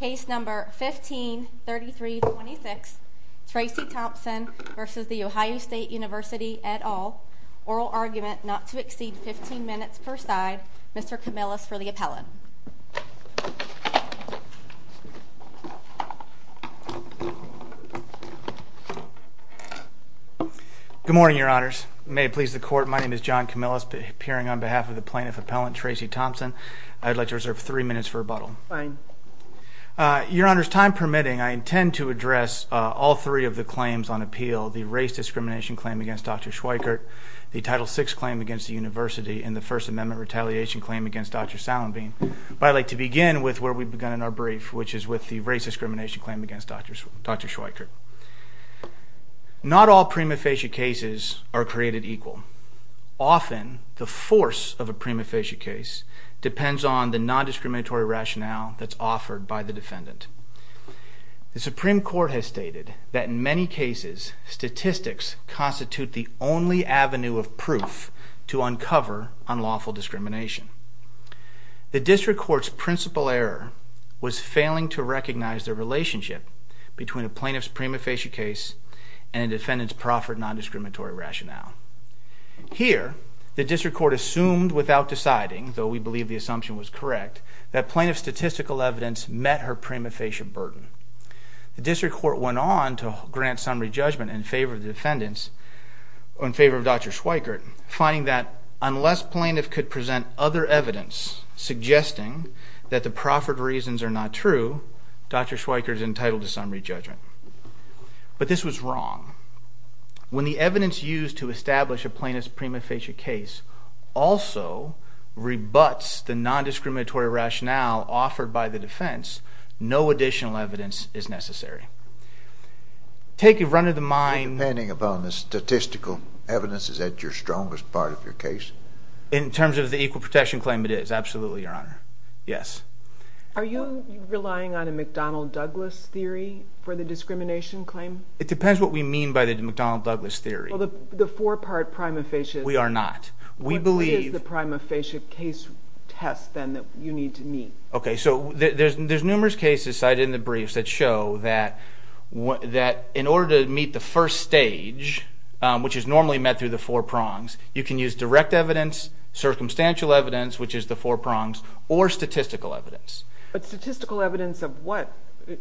Case number 153326 Tracy Thompson v. The Ohio State University et al. Oral argument not to exceed 15 minutes per side. Mr. Camillus for the appellant. Good morning, your honors. May it please the court, my name is John Camillus appearing on behalf of the plaintiff appellant Tracy Thompson. I'd like to reserve three minutes for rebuttal. Fine. Your honors, time permitting, I intend to address all three of the claims on appeal. The race discrimination claim against Dr. Schweikert, the Title VI claim against the university, and the First Amendment retaliation claim against Dr. Salenbeam. But I'd like to begin with where we've begun in our brief, which is with the race discrimination claim against Dr. Schweikert. Not all prima facie cases are created equal. Often, the force of a prima facie case depends on the non-discriminatory rationale that's offered by the defendant. The Supreme Court has stated that in many cases, statistics constitute the only avenue of proof to uncover unlawful discrimination. The District Court's principal error was failing to recognize the relationship between a plaintiff's prima facie case and a defendant's proffered non-discriminatory rationale. Here, the District Court assumed without deciding, though we believe the assumption was correct, that plaintiff's statistical evidence met her prima facie burden. The District Court went on to grant summary judgment in favor of Dr. Schweikert, finding that unless plaintiff could present other evidence suggesting that the proffered reasons are not true, Dr. Schweikert is entitled to summary judgment. But this was wrong. When the evidence used to establish a plaintiff's prima facie case also rebuts the non-discriminatory rationale offered by the defense, no additional evidence is necessary. Take it run of the mind— So depending upon the statistical evidence, is that your strongest part of your case? In terms of the equal protection claim, it is. Absolutely, Your Honor. Yes. Are you relying on a McDonnell-Douglas theory for the discrimination claim? It depends what we mean by the McDonnell-Douglas theory. Well, the four-part prima facie— We are not. We believe— What is the prima facie case test, then, that you need to meet? Okay, so there's numerous cases cited in the briefs that show that in order to meet the first stage, which is normally met through the four prongs, you can use direct evidence, circumstantial evidence, which is the four prongs, or statistical evidence. But statistical evidence of what?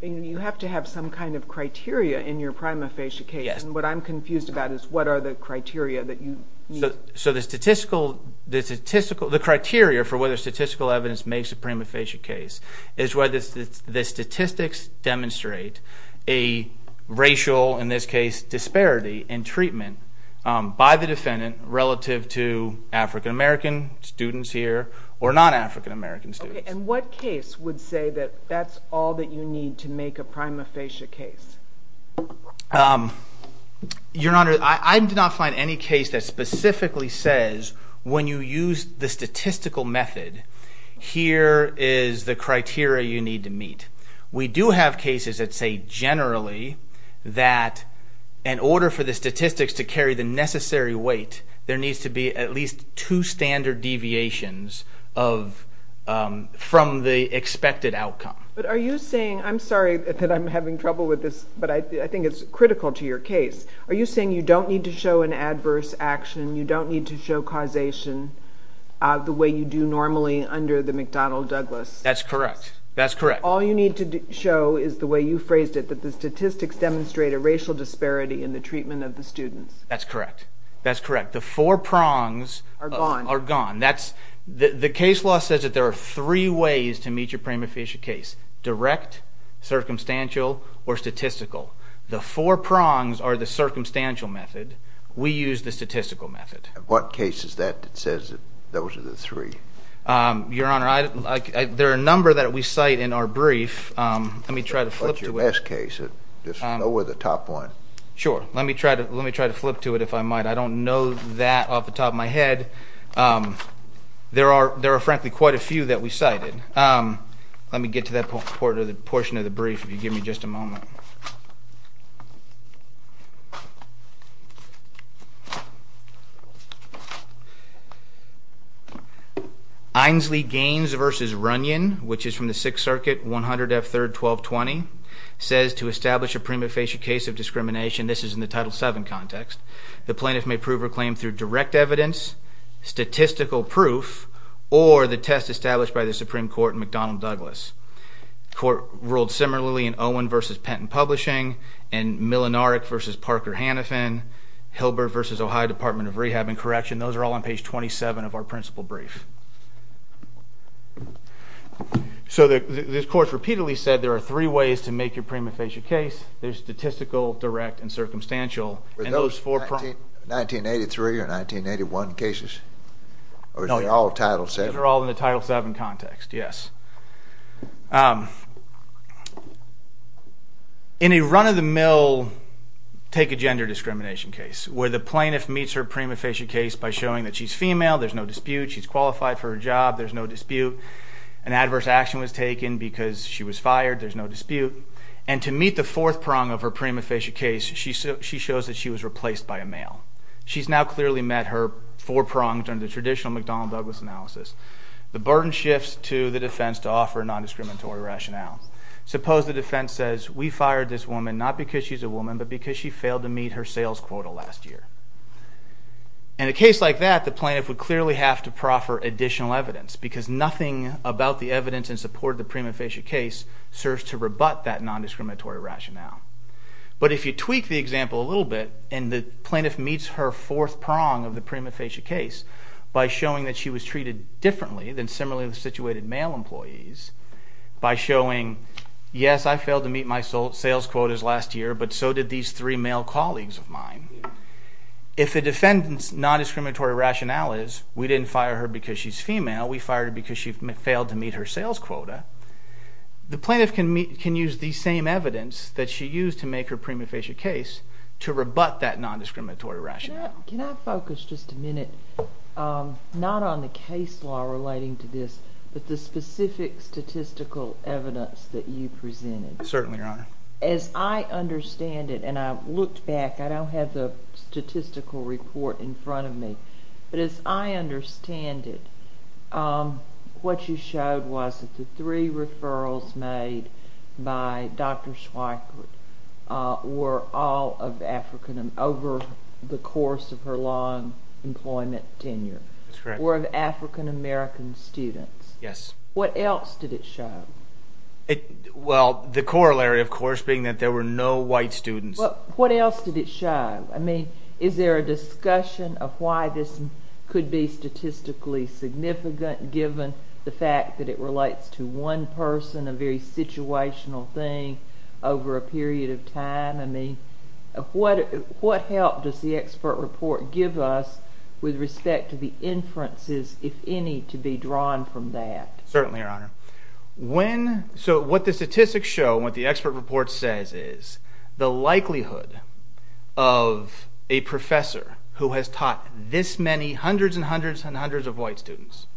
You have to have some kind of criteria in your prima facie case. Yes. And what I'm confused about is what are the criteria that you need? So the criteria for whether statistical evidence makes a prima facie case is whether the statistics demonstrate a racial, in this case, disparity in treatment by the defendant relative to African-American students here or non-African-American students. And what case would say that that's all that you need to make a prima facie case? Your Honor, I did not find any case that specifically says when you use the statistical method, here is the criteria you need to meet. We do have cases that say generally that in order for the statistics to carry the necessary weight, there needs to be at least two standard deviations from the expected outcome. But are you saying, I'm sorry that I'm having trouble with this, but I think it's critical to your case, are you saying you don't need to show an adverse action, you don't need to show causation, the way you do normally under the McDonnell-Douglas? That's correct. That's correct. All you need to show is the way you phrased it, that the statistics demonstrate a racial disparity in the treatment of the students. That's correct. That's correct. The four prongs are gone. The case law says that there are three ways to meet your prima facie case. Direct, circumstantial, or statistical. The four prongs are the circumstantial method. We use the statistical method. What case is that that says that those are the three? Your Honor, there are a number that we cite in our brief. Let me try to flip to it. What's your best case? Just go with the top one. Sure. Let me try to flip to it if I might. I don't know that off the top of my head. There are frankly quite a few that we cited. Let me get to that portion of the brief if you give me just a moment. Aynsley Gaines v. Runyon, which is from the Sixth Circuit, 100 F. 3rd, 1220, says to establish a prima facie case of discrimination. This is in the Title VII context. The plaintiff may prove or claim through direct evidence, statistical proof, or the test established by the Supreme Court in McDonnell-Douglas. The Court ruled similarly in Owen v. Penton Publishing and Milonarek v. Parker-Hannafin, Hilbert v. Ohio Department of Rehab and Correction. Those are all on page 27 of our principal brief. So this Court repeatedly said there are three ways to make your prima facie case. There's statistical, direct, and circumstantial. Were those 1983 or 1981 cases? Or is it all Title VII? They're all in the Title VII context, yes. In a run-of-the-mill take a gender discrimination case, where the plaintiff meets her prima facie case by showing that she's female, there's no dispute, she's qualified for her job, there's no dispute. An adverse action was taken because she was fired, there's no dispute. And to meet the fourth prong of her prima facie case, she shows that she was replaced by a male. She's now clearly met her four prongs under traditional McDonnell-Douglas analysis. The burden shifts to the defense to offer a non-discriminatory rationale. Suppose the defense says, we fired this woman not because she's a woman, but because she failed to meet her sales quota last year. In a case like that, the plaintiff would clearly have to proffer additional evidence, because nothing about the evidence in support of the prima facie case serves to rebut that non-discriminatory rationale. But if you tweak the example a little bit, and the plaintiff meets her fourth prong of the prima facie case by showing that she was treated differently than similarly situated male employees, by showing, yes, I failed to meet my sales quotas last year, but so did these three male colleagues of mine. If the defendant's non-discriminatory rationale is, we didn't fire her because she's female, we fired her because she failed to meet her sales quota, the plaintiff can use the same evidence that she used to make her prima facie case to rebut that non-discriminatory rationale. Can I focus just a minute not on the case law relating to this, but the specific statistical evidence that you presented? Certainly, Your Honor. As I understand it, and I looked back, I don't have the statistical report in front of me, but as I understand it, what you showed was that the three referrals made by Dr. Schweikert were all of African, over the course of her long employment tenure. That's correct. Were of African American students. Yes. What else did it show? Well, the corollary, of course, being that there were no white students. What else did it show? I mean, is there a discussion of why this could be statistically significant, given the fact that it relates to one person, a very situational thing, over a period of time? I mean, what help does the expert report give us with respect to the inferences, if any, to be drawn from that? Certainly, Your Honor. So what the statistics show, what the expert report says is the likelihood of a professor who has taught this many, hundreds and hundreds and hundreds of white students,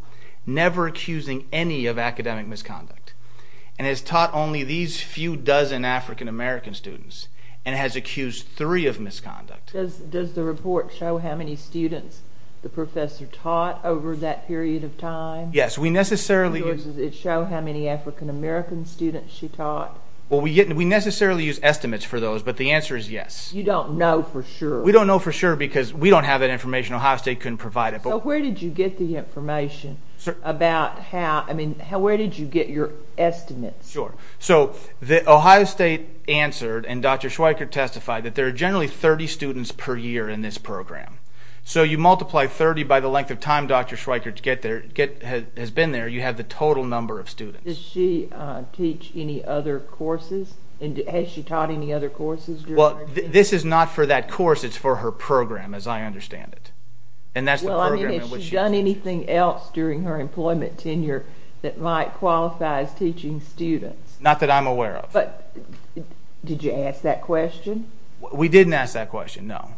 never accusing any of academic misconduct, and has taught only these few dozen African American students, and has accused three of misconduct. Does the report show how many students the professor taught over that period of time? Yes. Does it show how many African American students she taught? Well, we necessarily use estimates for those, but the answer is yes. You don't know for sure. We don't know for sure, because we don't have that information. Ohio State couldn't provide it. So where did you get the information about how, I mean, where did you get your estimates? Sure. So Ohio State answered, and Dr. Schweiker testified, that there are generally 30 students per year in this program. So you multiply 30 by the length of time Dr. Schweiker has been there, you have the total number of students. Did she teach any other courses? Has she taught any other courses? Well, this is not for that course. It's for her program, as I understand it, and that's the program in which she teaches. Well, I mean, has she done anything else during her employment tenure that might qualify as teaching students? Not that I'm aware of. But did you ask that question? We didn't ask that question, no.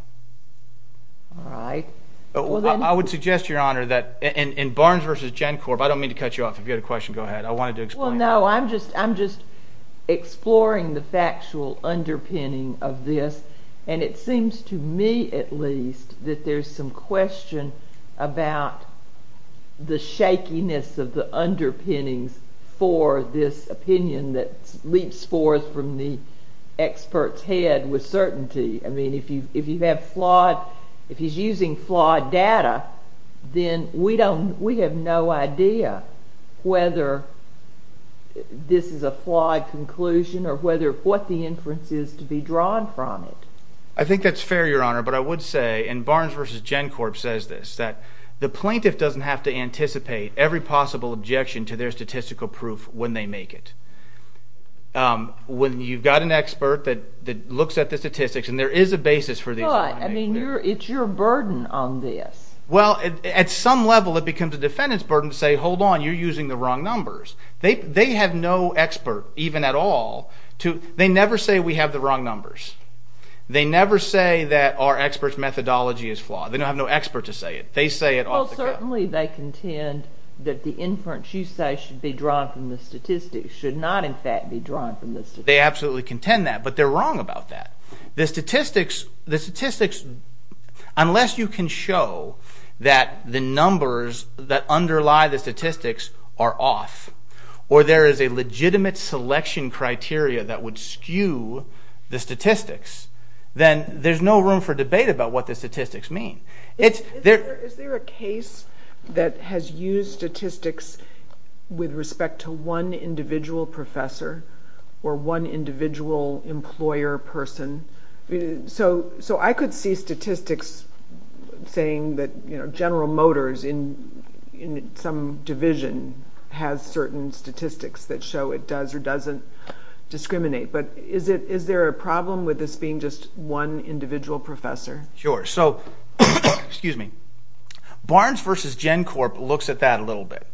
All right. I would suggest, Your Honor, that in Barnes v. Gencorp, I don't mean to cut you off. If you had a question, go ahead. I wanted to explain. Well, no, I'm just exploring the factual underpinning of this, and it seems to me at least that there's some question about the shakiness of the underpinnings for this opinion that leaps forth from the expert's head with certainty. I mean, if he's using flawed data, then we have no idea whether this is a flawed conclusion or what the inference is to be drawn from it. I think that's fair, Your Honor, but I would say, and Barnes v. Gencorp says this, that the plaintiff doesn't have to anticipate every possible objection to their statistical proof when they make it. When you've got an expert that looks at the statistics, and there is a basis for these. But, I mean, it's your burden on this. Well, at some level, it becomes a defendant's burden to say, hold on, you're using the wrong numbers. They have no expert, even at all. They never say we have the wrong numbers. They never say that our expert's methodology is flawed. They don't have no expert to say it. They say it off the cuff. Well, certainly they contend that the inference you say should be drawn from the statistics should not, in fact, be drawn from the statistics. They absolutely contend that, but they're wrong about that. The statistics, unless you can show that the numbers that underlie the statistics are off, or there is a legitimate selection criteria that would skew the statistics, then there's no room for debate about what the statistics mean. Is there a case that has used statistics with respect to one individual professor or one individual employer person? So I could see statistics saying that General Motors in some division has certain statistics that show it does or doesn't discriminate, but is there a problem with this being just one individual professor? Sure. So Barnes v. GenCorp looks at that a little bit.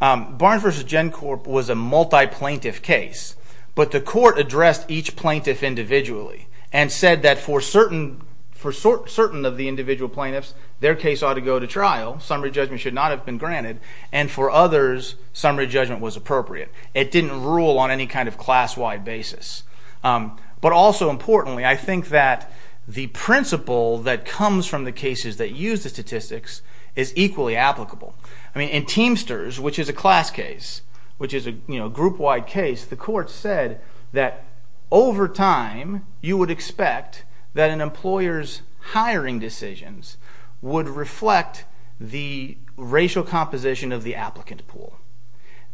Barnes v. GenCorp was a multi-plaintiff case, but the court addressed each plaintiff individually and said that for certain of the individual plaintiffs, their case ought to go to trial, summary judgment should not have been granted, and for others, summary judgment was appropriate. It didn't rule on any kind of class-wide basis. But also importantly, I think that the principle that comes from the cases that use the statistics is equally applicable. In Teamsters, which is a class case, which is a group-wide case, the court said that over time you would expect that an employer's hiring decisions would reflect the racial composition of the applicant pool.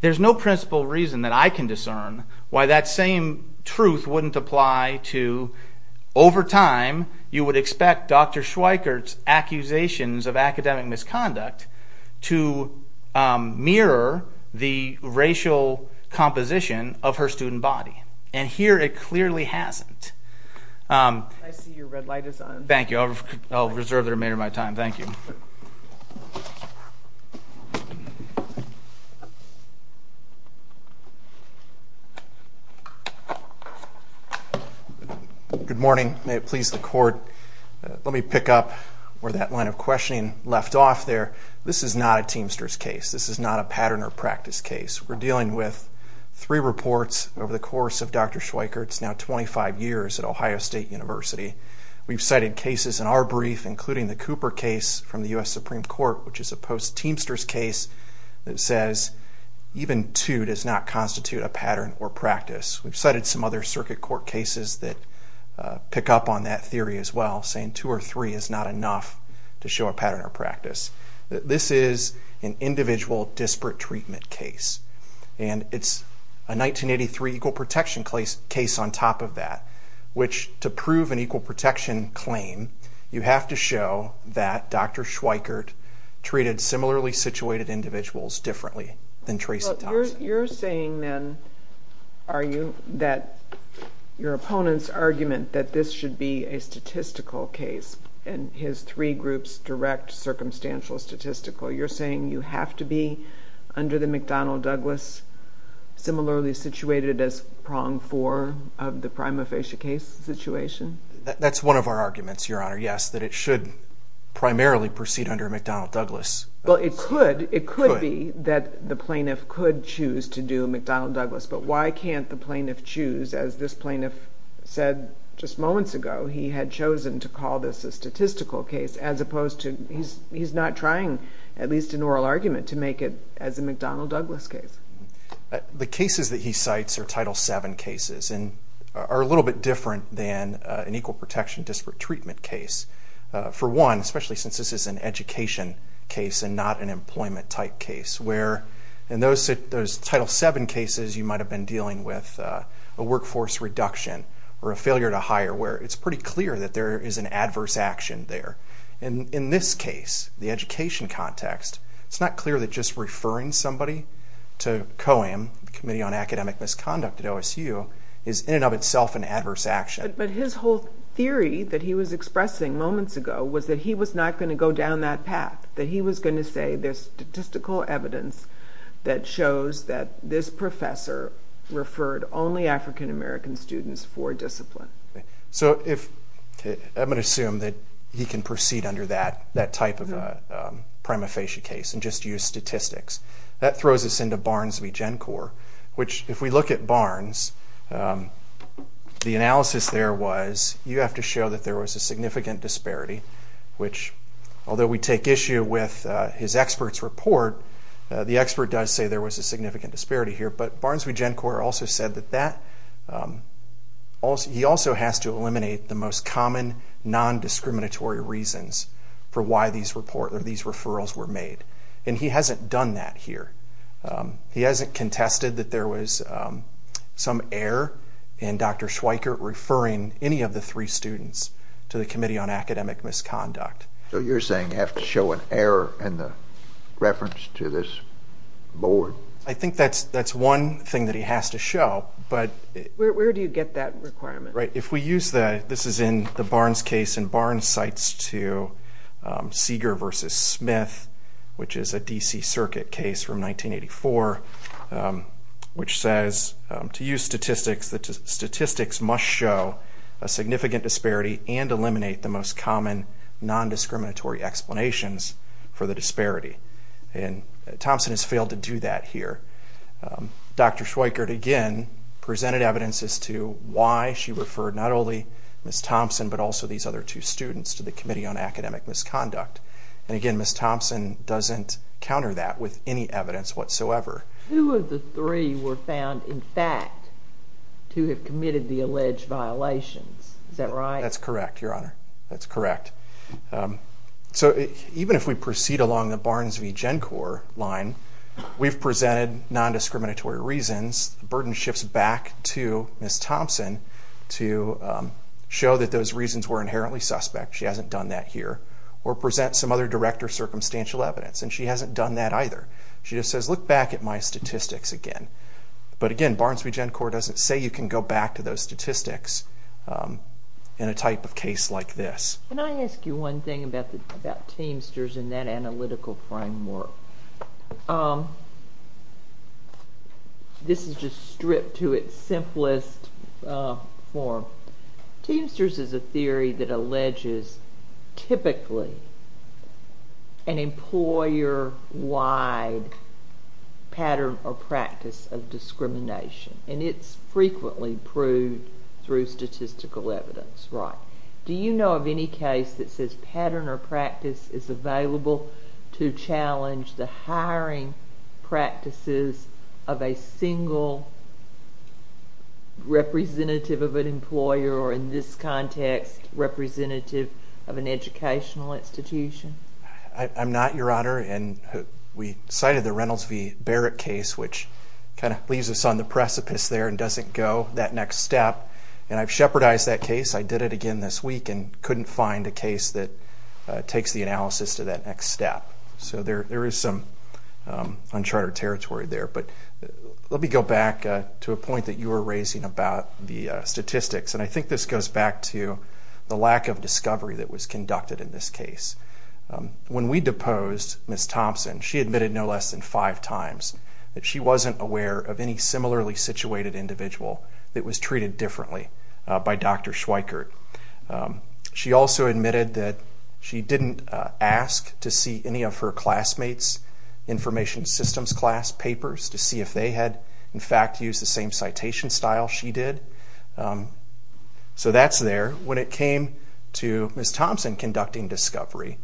There's no principle reason that I can discern why that same truth wouldn't apply to over time you would expect Dr. Schweikert's accusations of academic misconduct to mirror the racial composition of her student body. And here it clearly hasn't. I see your red light is on. Thank you. I'll reserve the remainder of my time. Thank you. Good morning. May it please the court. Let me pick up where that line of questioning left off there. This is not a Teamsters case. This is not a pattern or practice case. We're dealing with three reports over the course of Dr. Schweikert's now 25 years at Ohio State University. We've cited cases in our brief, including the Cooper case from the U.S. Supreme Court, which is a post-Teamsters case that says even two does not constitute a pattern or practice. We've cited some other circuit court cases that pick up on that theory as well, saying two or three is not enough to show a pattern or practice. This is an individual disparate treatment case. And it's a 1983 equal protection case on top of that, which to prove an equal protection claim, you have to show that Dr. Schweikert treated similarly situated individuals differently than Teresa Thompson. You're saying then, are you, that your opponent's argument that this should be a statistical case and his three groups direct circumstantial statistical, you're saying you have to be under the McDonnell-Douglas similarly situated as prong four of the prima facie case situation? That's one of our arguments, Your Honor, yes, that it should primarily proceed under McDonnell-Douglas. Well, it could. It could be that the plaintiff could choose to do McDonnell-Douglas. But why can't the plaintiff choose, as this plaintiff said just moments ago, he had chosen to call this a statistical case as opposed to, he's not trying, at least in oral argument, to make it as a McDonnell-Douglas case. The cases that he cites are Title VII cases and are a little bit different than an equal protection disparate treatment case. For one, especially since this is an education case and not an employment type case, where in those Title VII cases you might have been dealing with a workforce reduction or a failure to hire where it's pretty clear that there is an adverse action there. In this case, the education context, it's not clear that just referring somebody to COAM, the Committee on Academic Misconduct at OSU, is in and of itself an adverse action. But his whole theory that he was expressing moments ago was that he was not going to go down that path, that he was going to say there's statistical evidence that shows that this professor referred only African-American students for discipline. So if, I'm going to assume that he can proceed under that type of a prima facie case and just use statistics, that throws us into Barnes v. Gencor, which if we look at Barnes, the analysis there was you have to show that there was a significant disparity, which although we take issue with his expert's report, the expert does say there was a significant disparity here. But Barnes v. Gencor also said that he also has to eliminate the most common non-discriminatory reasons for why these referrals were made. And he hasn't done that here. He hasn't contested that there was some error in Dr. Schweikert referring any of the three students to the Committee on Academic Misconduct. So you're saying you have to show an error in the reference to this board? I think that's one thing that he has to show. Where do you get that requirement? If we use that, this is in the Barnes case in Barnes cites to Seeger v. Smith, which is a D.C. Circuit case from 1984, which says, to use statistics, that statistics must show a significant disparity and eliminate the most common non-discriminatory explanations for the disparity. Thompson has failed to do that here. Dr. Schweikert, again, presented evidence as to why she referred not only Ms. Thompson but also these other two students to the Committee on Academic Misconduct. And again, Ms. Thompson doesn't counter that with any evidence whatsoever. Two of the three were found, in fact, to have committed the alleged violations. Is that right? That's correct, Your Honor. That's correct. So even if we proceed along the Barnes v. Gencor line, we've presented non-discriminatory reasons. The burden shifts back to Ms. Thompson to show that those reasons were inherently suspect. She hasn't done that here. Or present some other direct or circumstantial evidence. And she hasn't done that either. She just says, look back at my statistics again. But again, Barnes v. Gencor doesn't say you can go back to those statistics in a type of case like this. Can I ask you one thing about Teamsters and that analytical framework? This is just stripped to its simplest form. Teamsters is a theory that alleges typically an employer-wide pattern or practice of discrimination. And it's frequently proved through statistical evidence. That's right. Do you know of any case that says pattern or practice is available to challenge the hiring practices of a single representative of an employer or in this context representative of an educational institution? I'm not, Your Honor. And we cited the Reynolds v. Barrett case, which kind of leaves us on the precipice there and doesn't go that next step. And I've shepherdized that case. I did it again this week and couldn't find a case that takes the analysis to that next step. So there is some unchartered territory there. But let me go back to a point that you were raising about the statistics. And I think this goes back to the lack of discovery that was conducted in this case. When we deposed Ms. Thompson, she admitted no less than five times that she wasn't aware of any similarly situated individual that was treated differently by Dr. Schweikert. She also admitted that she didn't ask to see any of her classmates' Information Systems class papers to see if they had, in fact, used the same citation style she did. So that's there. When it came to Ms. Thompson conducting discovery,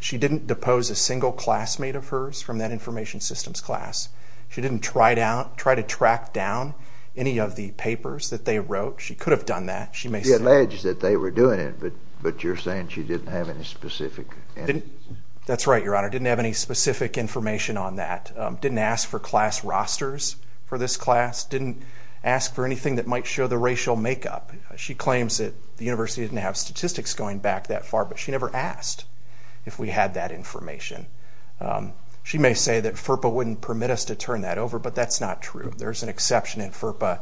she didn't depose a single classmate of hers from that Information Systems class. She didn't try to track down any of the papers that they wrote. She could have done that. She alleged that they were doing it, but you're saying she didn't have any specific evidence. That's right, Your Honor. Didn't have any specific information on that. Didn't ask for class rosters for this class. Didn't ask for anything that might show the racial makeup. She claims that the university didn't have statistics going back that far, but she never asked if we had that information. She may say that FERPA wouldn't permit us to turn that over, but that's not true. There's an exception in FERPA.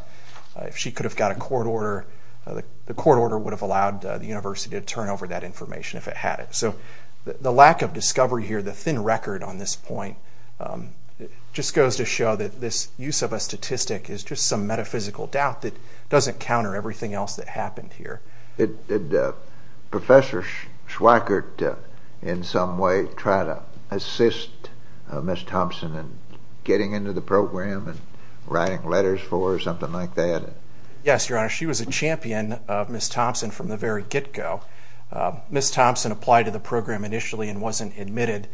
If she could have got a court order, the court order would have allowed the university to turn over that information if it had it. So the lack of discovery here, the thin record on this point, just goes to show that this use of a statistic is just some metaphysical doubt that doesn't counter everything else that happened here. Did Professor Schweikert in some way try to assist Ms. Thompson in getting into the program and writing letters for her or something like that? Yes, Your Honor. She was a champion of Ms. Thompson from the very get-go. Ms. Thompson applied to the program initially and wasn't admitted.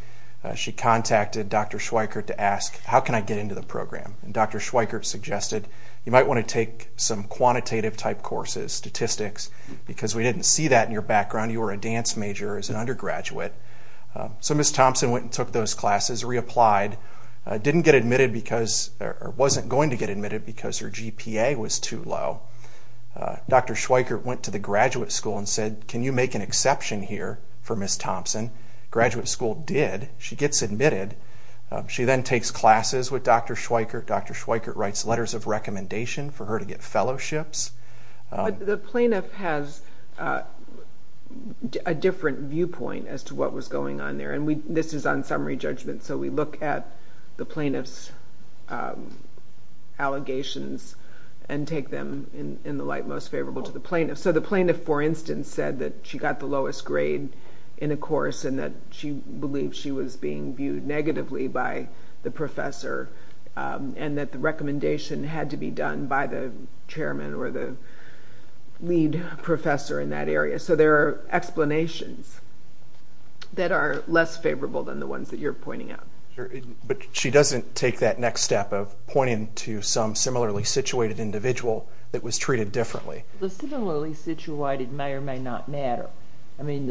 She contacted Dr. Schweikert to ask, how can I get into the program? Dr. Schweikert suggested you might want to take some quantitative-type courses, statistics, because we didn't see that in your background. You were a dance major as an undergraduate. So Ms. Thompson went and took those classes, reapplied, didn't get admitted because or wasn't going to get admitted because her GPA was too low. Dr. Schweikert went to the graduate school and said, can you make an exception here for Ms. Thompson? Graduate school did. She gets admitted. She then takes classes with Dr. Schweikert. Dr. Schweikert writes letters of recommendation for her to get fellowships. The plaintiff has a different viewpoint as to what was going on there, and this is on summary judgment, so we look at the plaintiff's allegations and take them in the light most favorable to the plaintiff. So the plaintiff, for instance, said that she got the lowest grade in a course and that she believed she was being viewed negatively by the professor and that the recommendation had to be done by the chairman or the lead professor in that area. So there are explanations that are less favorable than the ones that you're pointing out. But she doesn't take that next step of pointing to some similarly situated individual that was treated differently. The similarly situated may or may not matter. I mean,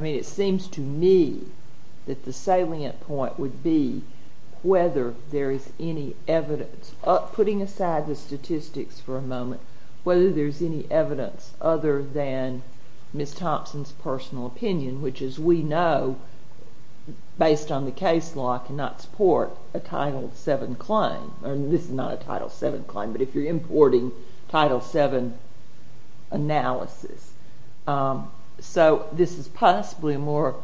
it seems to me that the salient point would be whether there is any evidence, putting aside the statistics for a moment, whether there's any evidence other than Ms. Thompson's personal opinion, which as we know, based on the case law, cannot support a Title VII claim. This is not a Title VII claim, but if you're importing Title VII analysis. So this is possibly a more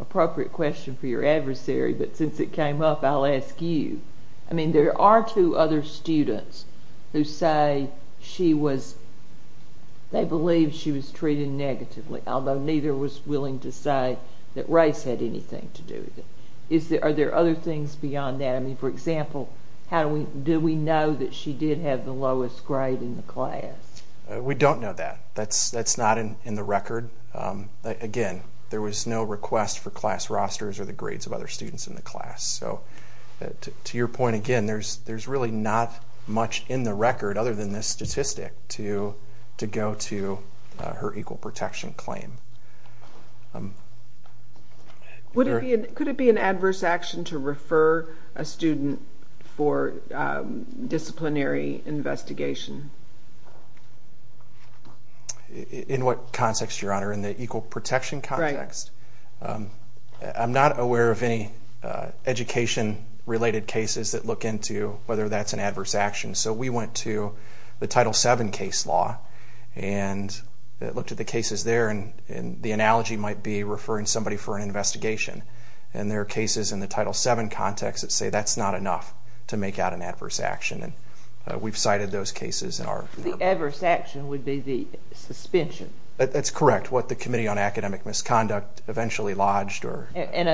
appropriate question for your adversary, but since it came up, I'll ask you. I mean, there are two other students who say they believe she was treated negatively, although neither was willing to say that race had anything to do with it. Are there other things beyond that? I mean, for example, do we know that she did have the lowest grade in the class? We don't know that. That's not in the record. Again, there was no request for class rosters or the grades of other students in the class. So to your point again, there's really not much in the record other than this statistic to go to her equal protection claim. Could it be an adverse action to refer a student for disciplinary investigation? In what context, Your Honor? In the equal protection context? Right. I'm not aware of any education-related cases that look into whether that's an adverse action. So we went to the Title VII case law and looked at the cases there, and the analogy might be referring somebody for an investigation. And there are cases in the Title VII context that say that's not enough to make out an adverse action. And we've cited those cases in our report. The adverse action would be the suspension. That's correct, what the Committee on Academic Misconduct eventually lodged. And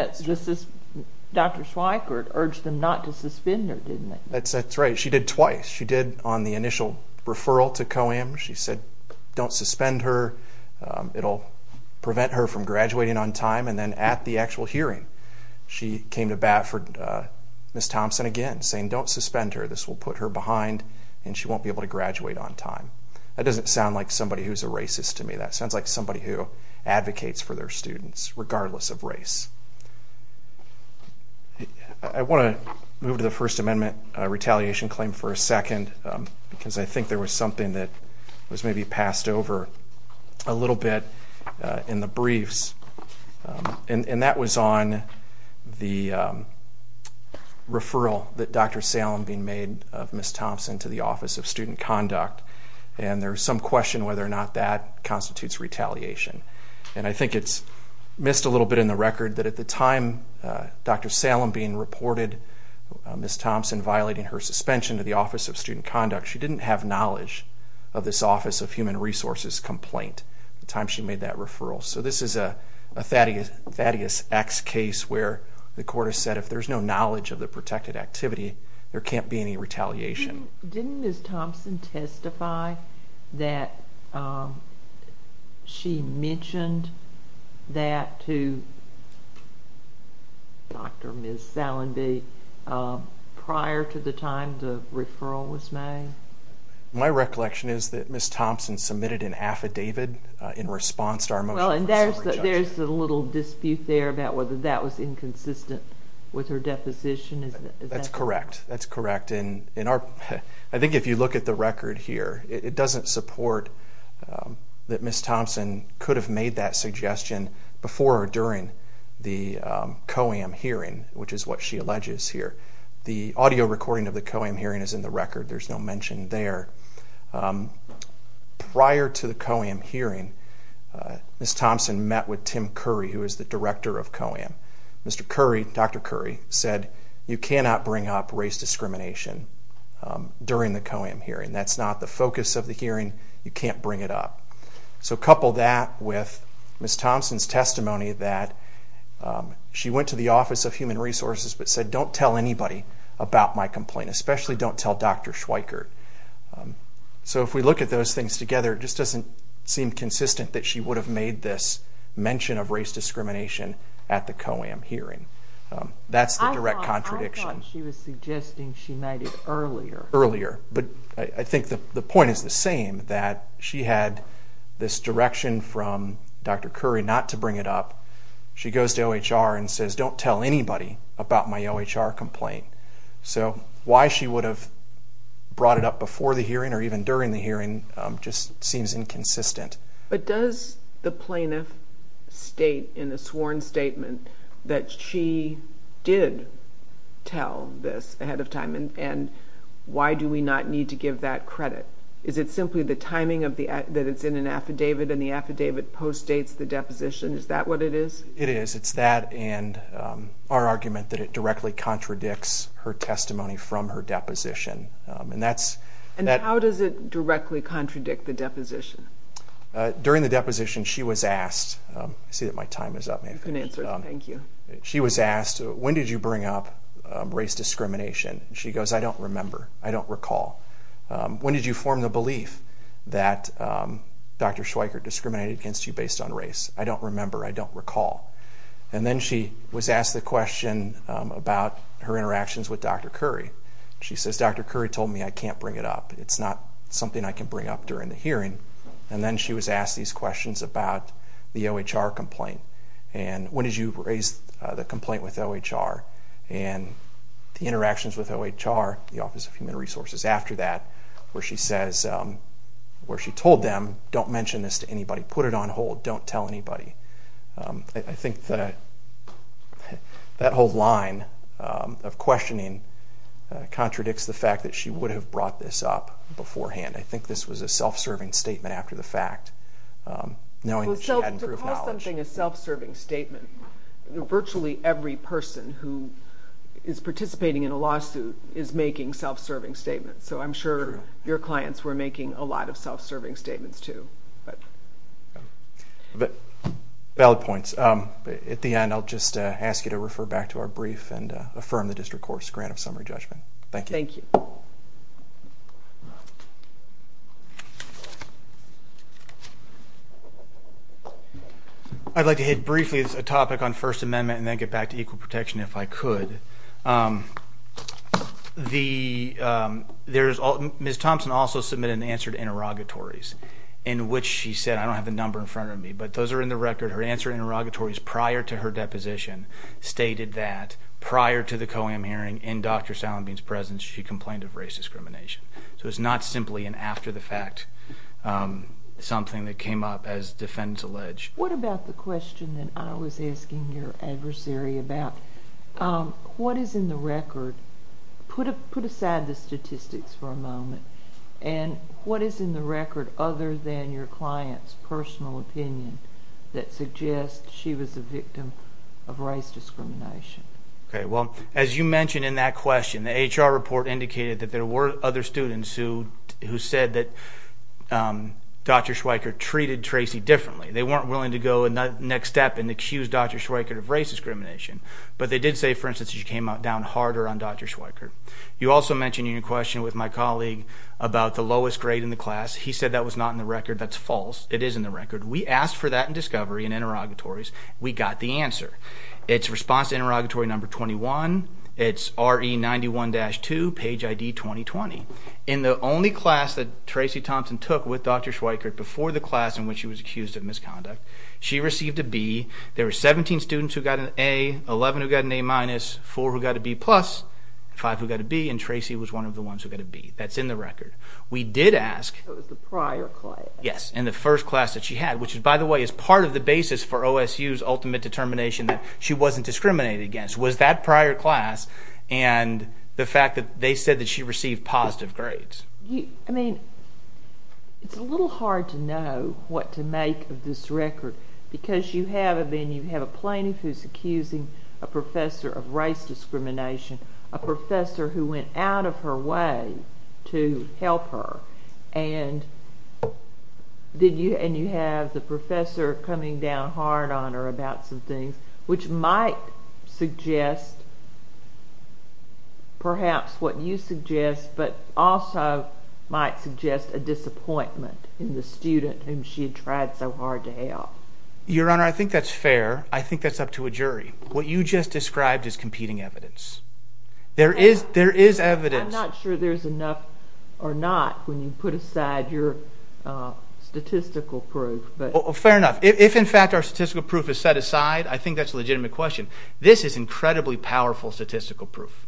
Dr. Schweikert urged them not to suspend her, didn't they? That's right. She did twice. She did on the initial referral to COAM. She said don't suspend her. It'll prevent her from graduating on time. And then at the actual hearing, she came to bat for Ms. Thompson again, saying don't suspend her. This will put her behind, and she won't be able to graduate on time. That doesn't sound like somebody who's a racist to me. That sounds like somebody who advocates for their students regardless of race. I want to move to the First Amendment retaliation claim for a second because I think there was something that was maybe passed over a little bit in the briefs. And that was on the referral that Dr. Salem being made of Ms. Thompson to the Office of Student Conduct. And there was some question whether or not that constitutes retaliation. And I think it's missed a little bit in the record that at the time Dr. Salem being reported Ms. Thompson violating her suspension to the Office of Student Conduct, she didn't have knowledge of this Office of Human Resources complaint at the time she made that referral. So this is a Thaddeus X case where the court has said if there's no knowledge of the protected activity, there can't be any retaliation. Didn't Ms. Thompson testify that she mentioned that to Dr. Ms. Salenby prior to the time the referral was made? My recollection is that Ms. Thompson submitted an affidavit in response to our motion for summary judgment. Well, and there's a little dispute there about whether that was inconsistent with her deposition. That's correct. That's correct. And I think if you look at the record here, it doesn't support that Ms. Thompson could have made that suggestion before or during the COAM hearing, which is what she alleges here. The audio recording of the COAM hearing is in the record. There's no mention there. Prior to the COAM hearing, Ms. Thompson met with Tim Curry, who is the director of COAM. Mr. Curry, Dr. Curry, said you cannot bring up race discrimination during the COAM hearing. That's not the focus of the hearing. You can't bring it up. So couple that with Ms. Thompson's testimony that she went to the Office of Human Resources but said don't tell anybody about my complaint, especially don't tell Dr. Schweikert. So if we look at those things together, it just doesn't seem consistent that she would have made this mention of race discrimination at the COAM hearing. That's the direct contradiction. I thought she was suggesting she made it earlier. Earlier. But I think the point is the same, that she had this direction from Dr. Curry not to bring it up. She goes to OHR and says don't tell anybody about my OHR complaint. So why she would have brought it up before the hearing or even during the hearing just seems inconsistent. But does the plaintiff state in a sworn statement that she did tell this ahead of time, and why do we not need to give that credit? Is it simply the timing that it's in an affidavit and the affidavit postdates the deposition? Is that what it is? It is. It's that and our argument that it directly contradicts her testimony from her deposition. And how does it directly contradict the deposition? During the deposition she was asked. I see that my time is up. You can answer. Thank you. She was asked when did you bring up race discrimination? She goes I don't remember. I don't recall. When did you form the belief that Dr. Schweikert discriminated against you based on race? She says I don't remember. I don't recall. And then she was asked the question about her interactions with Dr. Curry. She says Dr. Curry told me I can't bring it up. It's not something I can bring up during the hearing. And then she was asked these questions about the OHR complaint. And when did you raise the complaint with OHR? And the interactions with OHR, the Office of Human Resources, after that where she says, where she told them don't mention this to anybody. Put it on hold. Don't tell anybody. I think that whole line of questioning contradicts the fact that she would have brought this up beforehand. I think this was a self-serving statement after the fact, knowing that she had improved knowledge. To call something a self-serving statement, virtually every person who is participating in a lawsuit is making self-serving statements. So I'm sure your clients were making a lot of self-serving statements too. Valid points. At the end, I'll just ask you to refer back to our brief and affirm the district court's grant of summary judgment. Thank you. Thank you. I'd like to hit briefly a topic on First Amendment and then get back to equal protection if I could. Ms. Thompson also submitted an answer to interrogatories. In which she said, I don't have the number in front of me, but those are in the record. Her answer to interrogatories prior to her deposition stated that prior to the COAM hearing, in Dr. Salenby's presence, she complained of race discrimination. So it's not simply an after the fact, something that came up as defendants allege. What about the question that I was asking your adversary about what is in the record? Put aside the statistics for a moment. What is in the record other than your client's personal opinion that suggests she was a victim of race discrimination? As you mentioned in that question, the HR report indicated that there were other students who said that Dr. Schweiker treated Tracy differently. They weren't willing to go the next step and accuse Dr. Schweiker of race discrimination. But they did say, for instance, she came down harder on Dr. Schweiker. You also mentioned in your question with my colleague about the lowest grade in the class. He said that was not in the record. That's false. It is in the record. We asked for that in discovery in interrogatories. We got the answer. It's response to interrogatory number 21. It's RE91-2, page ID 2020. In the only class that Tracy Thompson took with Dr. Schweiker before the class in which she was accused of misconduct, she received a B. There were 17 students who got an A, 11 who got an A-, four who got a B+, five who got a B-, and Tracy was one of the ones who got a B. That's in the record. We did ask. It was the prior class. Yes, in the first class that she had, which, by the way, is part of the basis for OSU's ultimate determination that she wasn't discriminated against, was that prior class and the fact that they said that she received positive grades. I mean, it's a little hard to know what to make of this record because you have a plaintiff who's accusing a professor of race discrimination, a professor who went out of her way to help her, and you have the professor coming down hard on her about some things which might suggest perhaps what you suggest but also might suggest a disappointment in the student whom she had tried so hard to help. Your Honor, I think that's fair. I think that's up to a jury. What you just described is competing evidence. There is evidence. I'm not sure there's enough or not when you put aside your statistical proof. Fair enough. If, in fact, our statistical proof is set aside, I think that's a legitimate question. This is incredibly powerful statistical proof.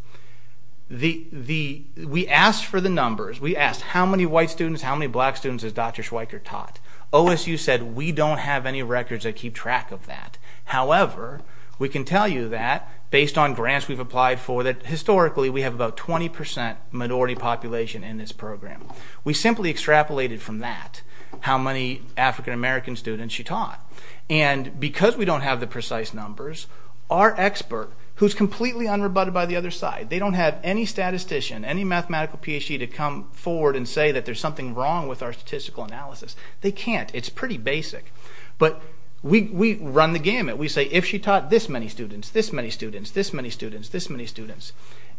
We asked for the numbers. We asked how many white students, how many black students has Dr. Schweiker taught. OSU said we don't have any records that keep track of that. However, we can tell you that based on grants we've applied for that historically we have about 20% minority population in this program. We simply extrapolated from that how many African-American students she taught. And because we don't have the precise numbers, our expert, who's completely unrebutted by the other side, they don't have any statistician, any mathematical PhD to come forward and say that there's something wrong with our statistical analysis. They can't. It's pretty basic. But we run the gamut. We say if she taught this many students, this many students, this many students, this many students,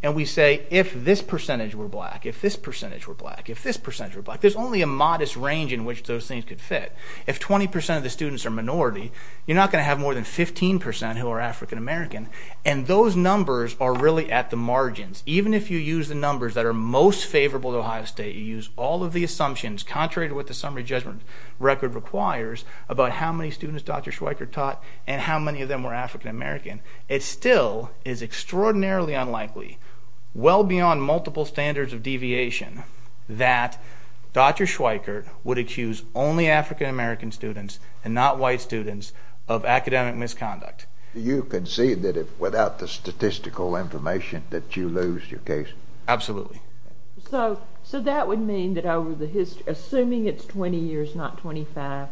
and we say if this percentage were black, if this percentage were black, if this percentage were black, there's only a modest range in which those things could fit. If 20% of the students are minority, you're not going to have more than 15% who are African-American, and those numbers are really at the margins. Even if you use the numbers that are most favorable to Ohio State, you use all of the assumptions contrary to what the summary judgment record requires about how many students Dr. Schweikert taught and how many of them were African-American, it still is extraordinarily unlikely, well beyond multiple standards of deviation, that Dr. Schweikert would accuse only African-American students and not white students of academic misconduct. Do you concede that without the statistical information that you lose your case? Absolutely. So that would mean that over the history, assuming it's 20 years, not 25,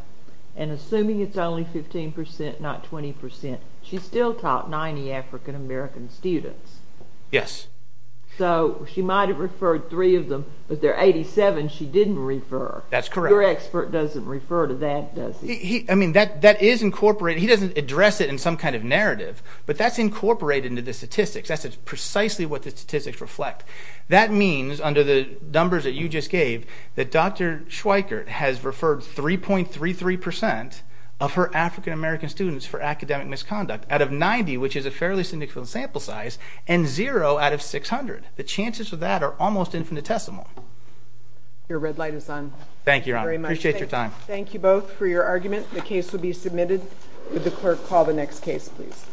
and assuming it's only 15%, not 20%, she still taught 90 African-American students. Yes. So she might have referred three of them, but there are 87 she didn't refer. That's correct. Your expert doesn't refer to that, does he? I mean, that is incorporated. He doesn't address it in some kind of narrative, but that's incorporated into the statistics. That's precisely what the statistics reflect. That means, under the numbers that you just gave, that Dr. Schweikert has referred 3.33% of her African-American students for academic misconduct out of 90, which is a fairly significant sample size, and 0 out of 600. The chances of that are almost infinitesimal. Your red light is on. Thank you, Your Honor. Thank you very much. Appreciate your time. Thank you both for your argument. The case will be submitted. Would the clerk call the next case, please?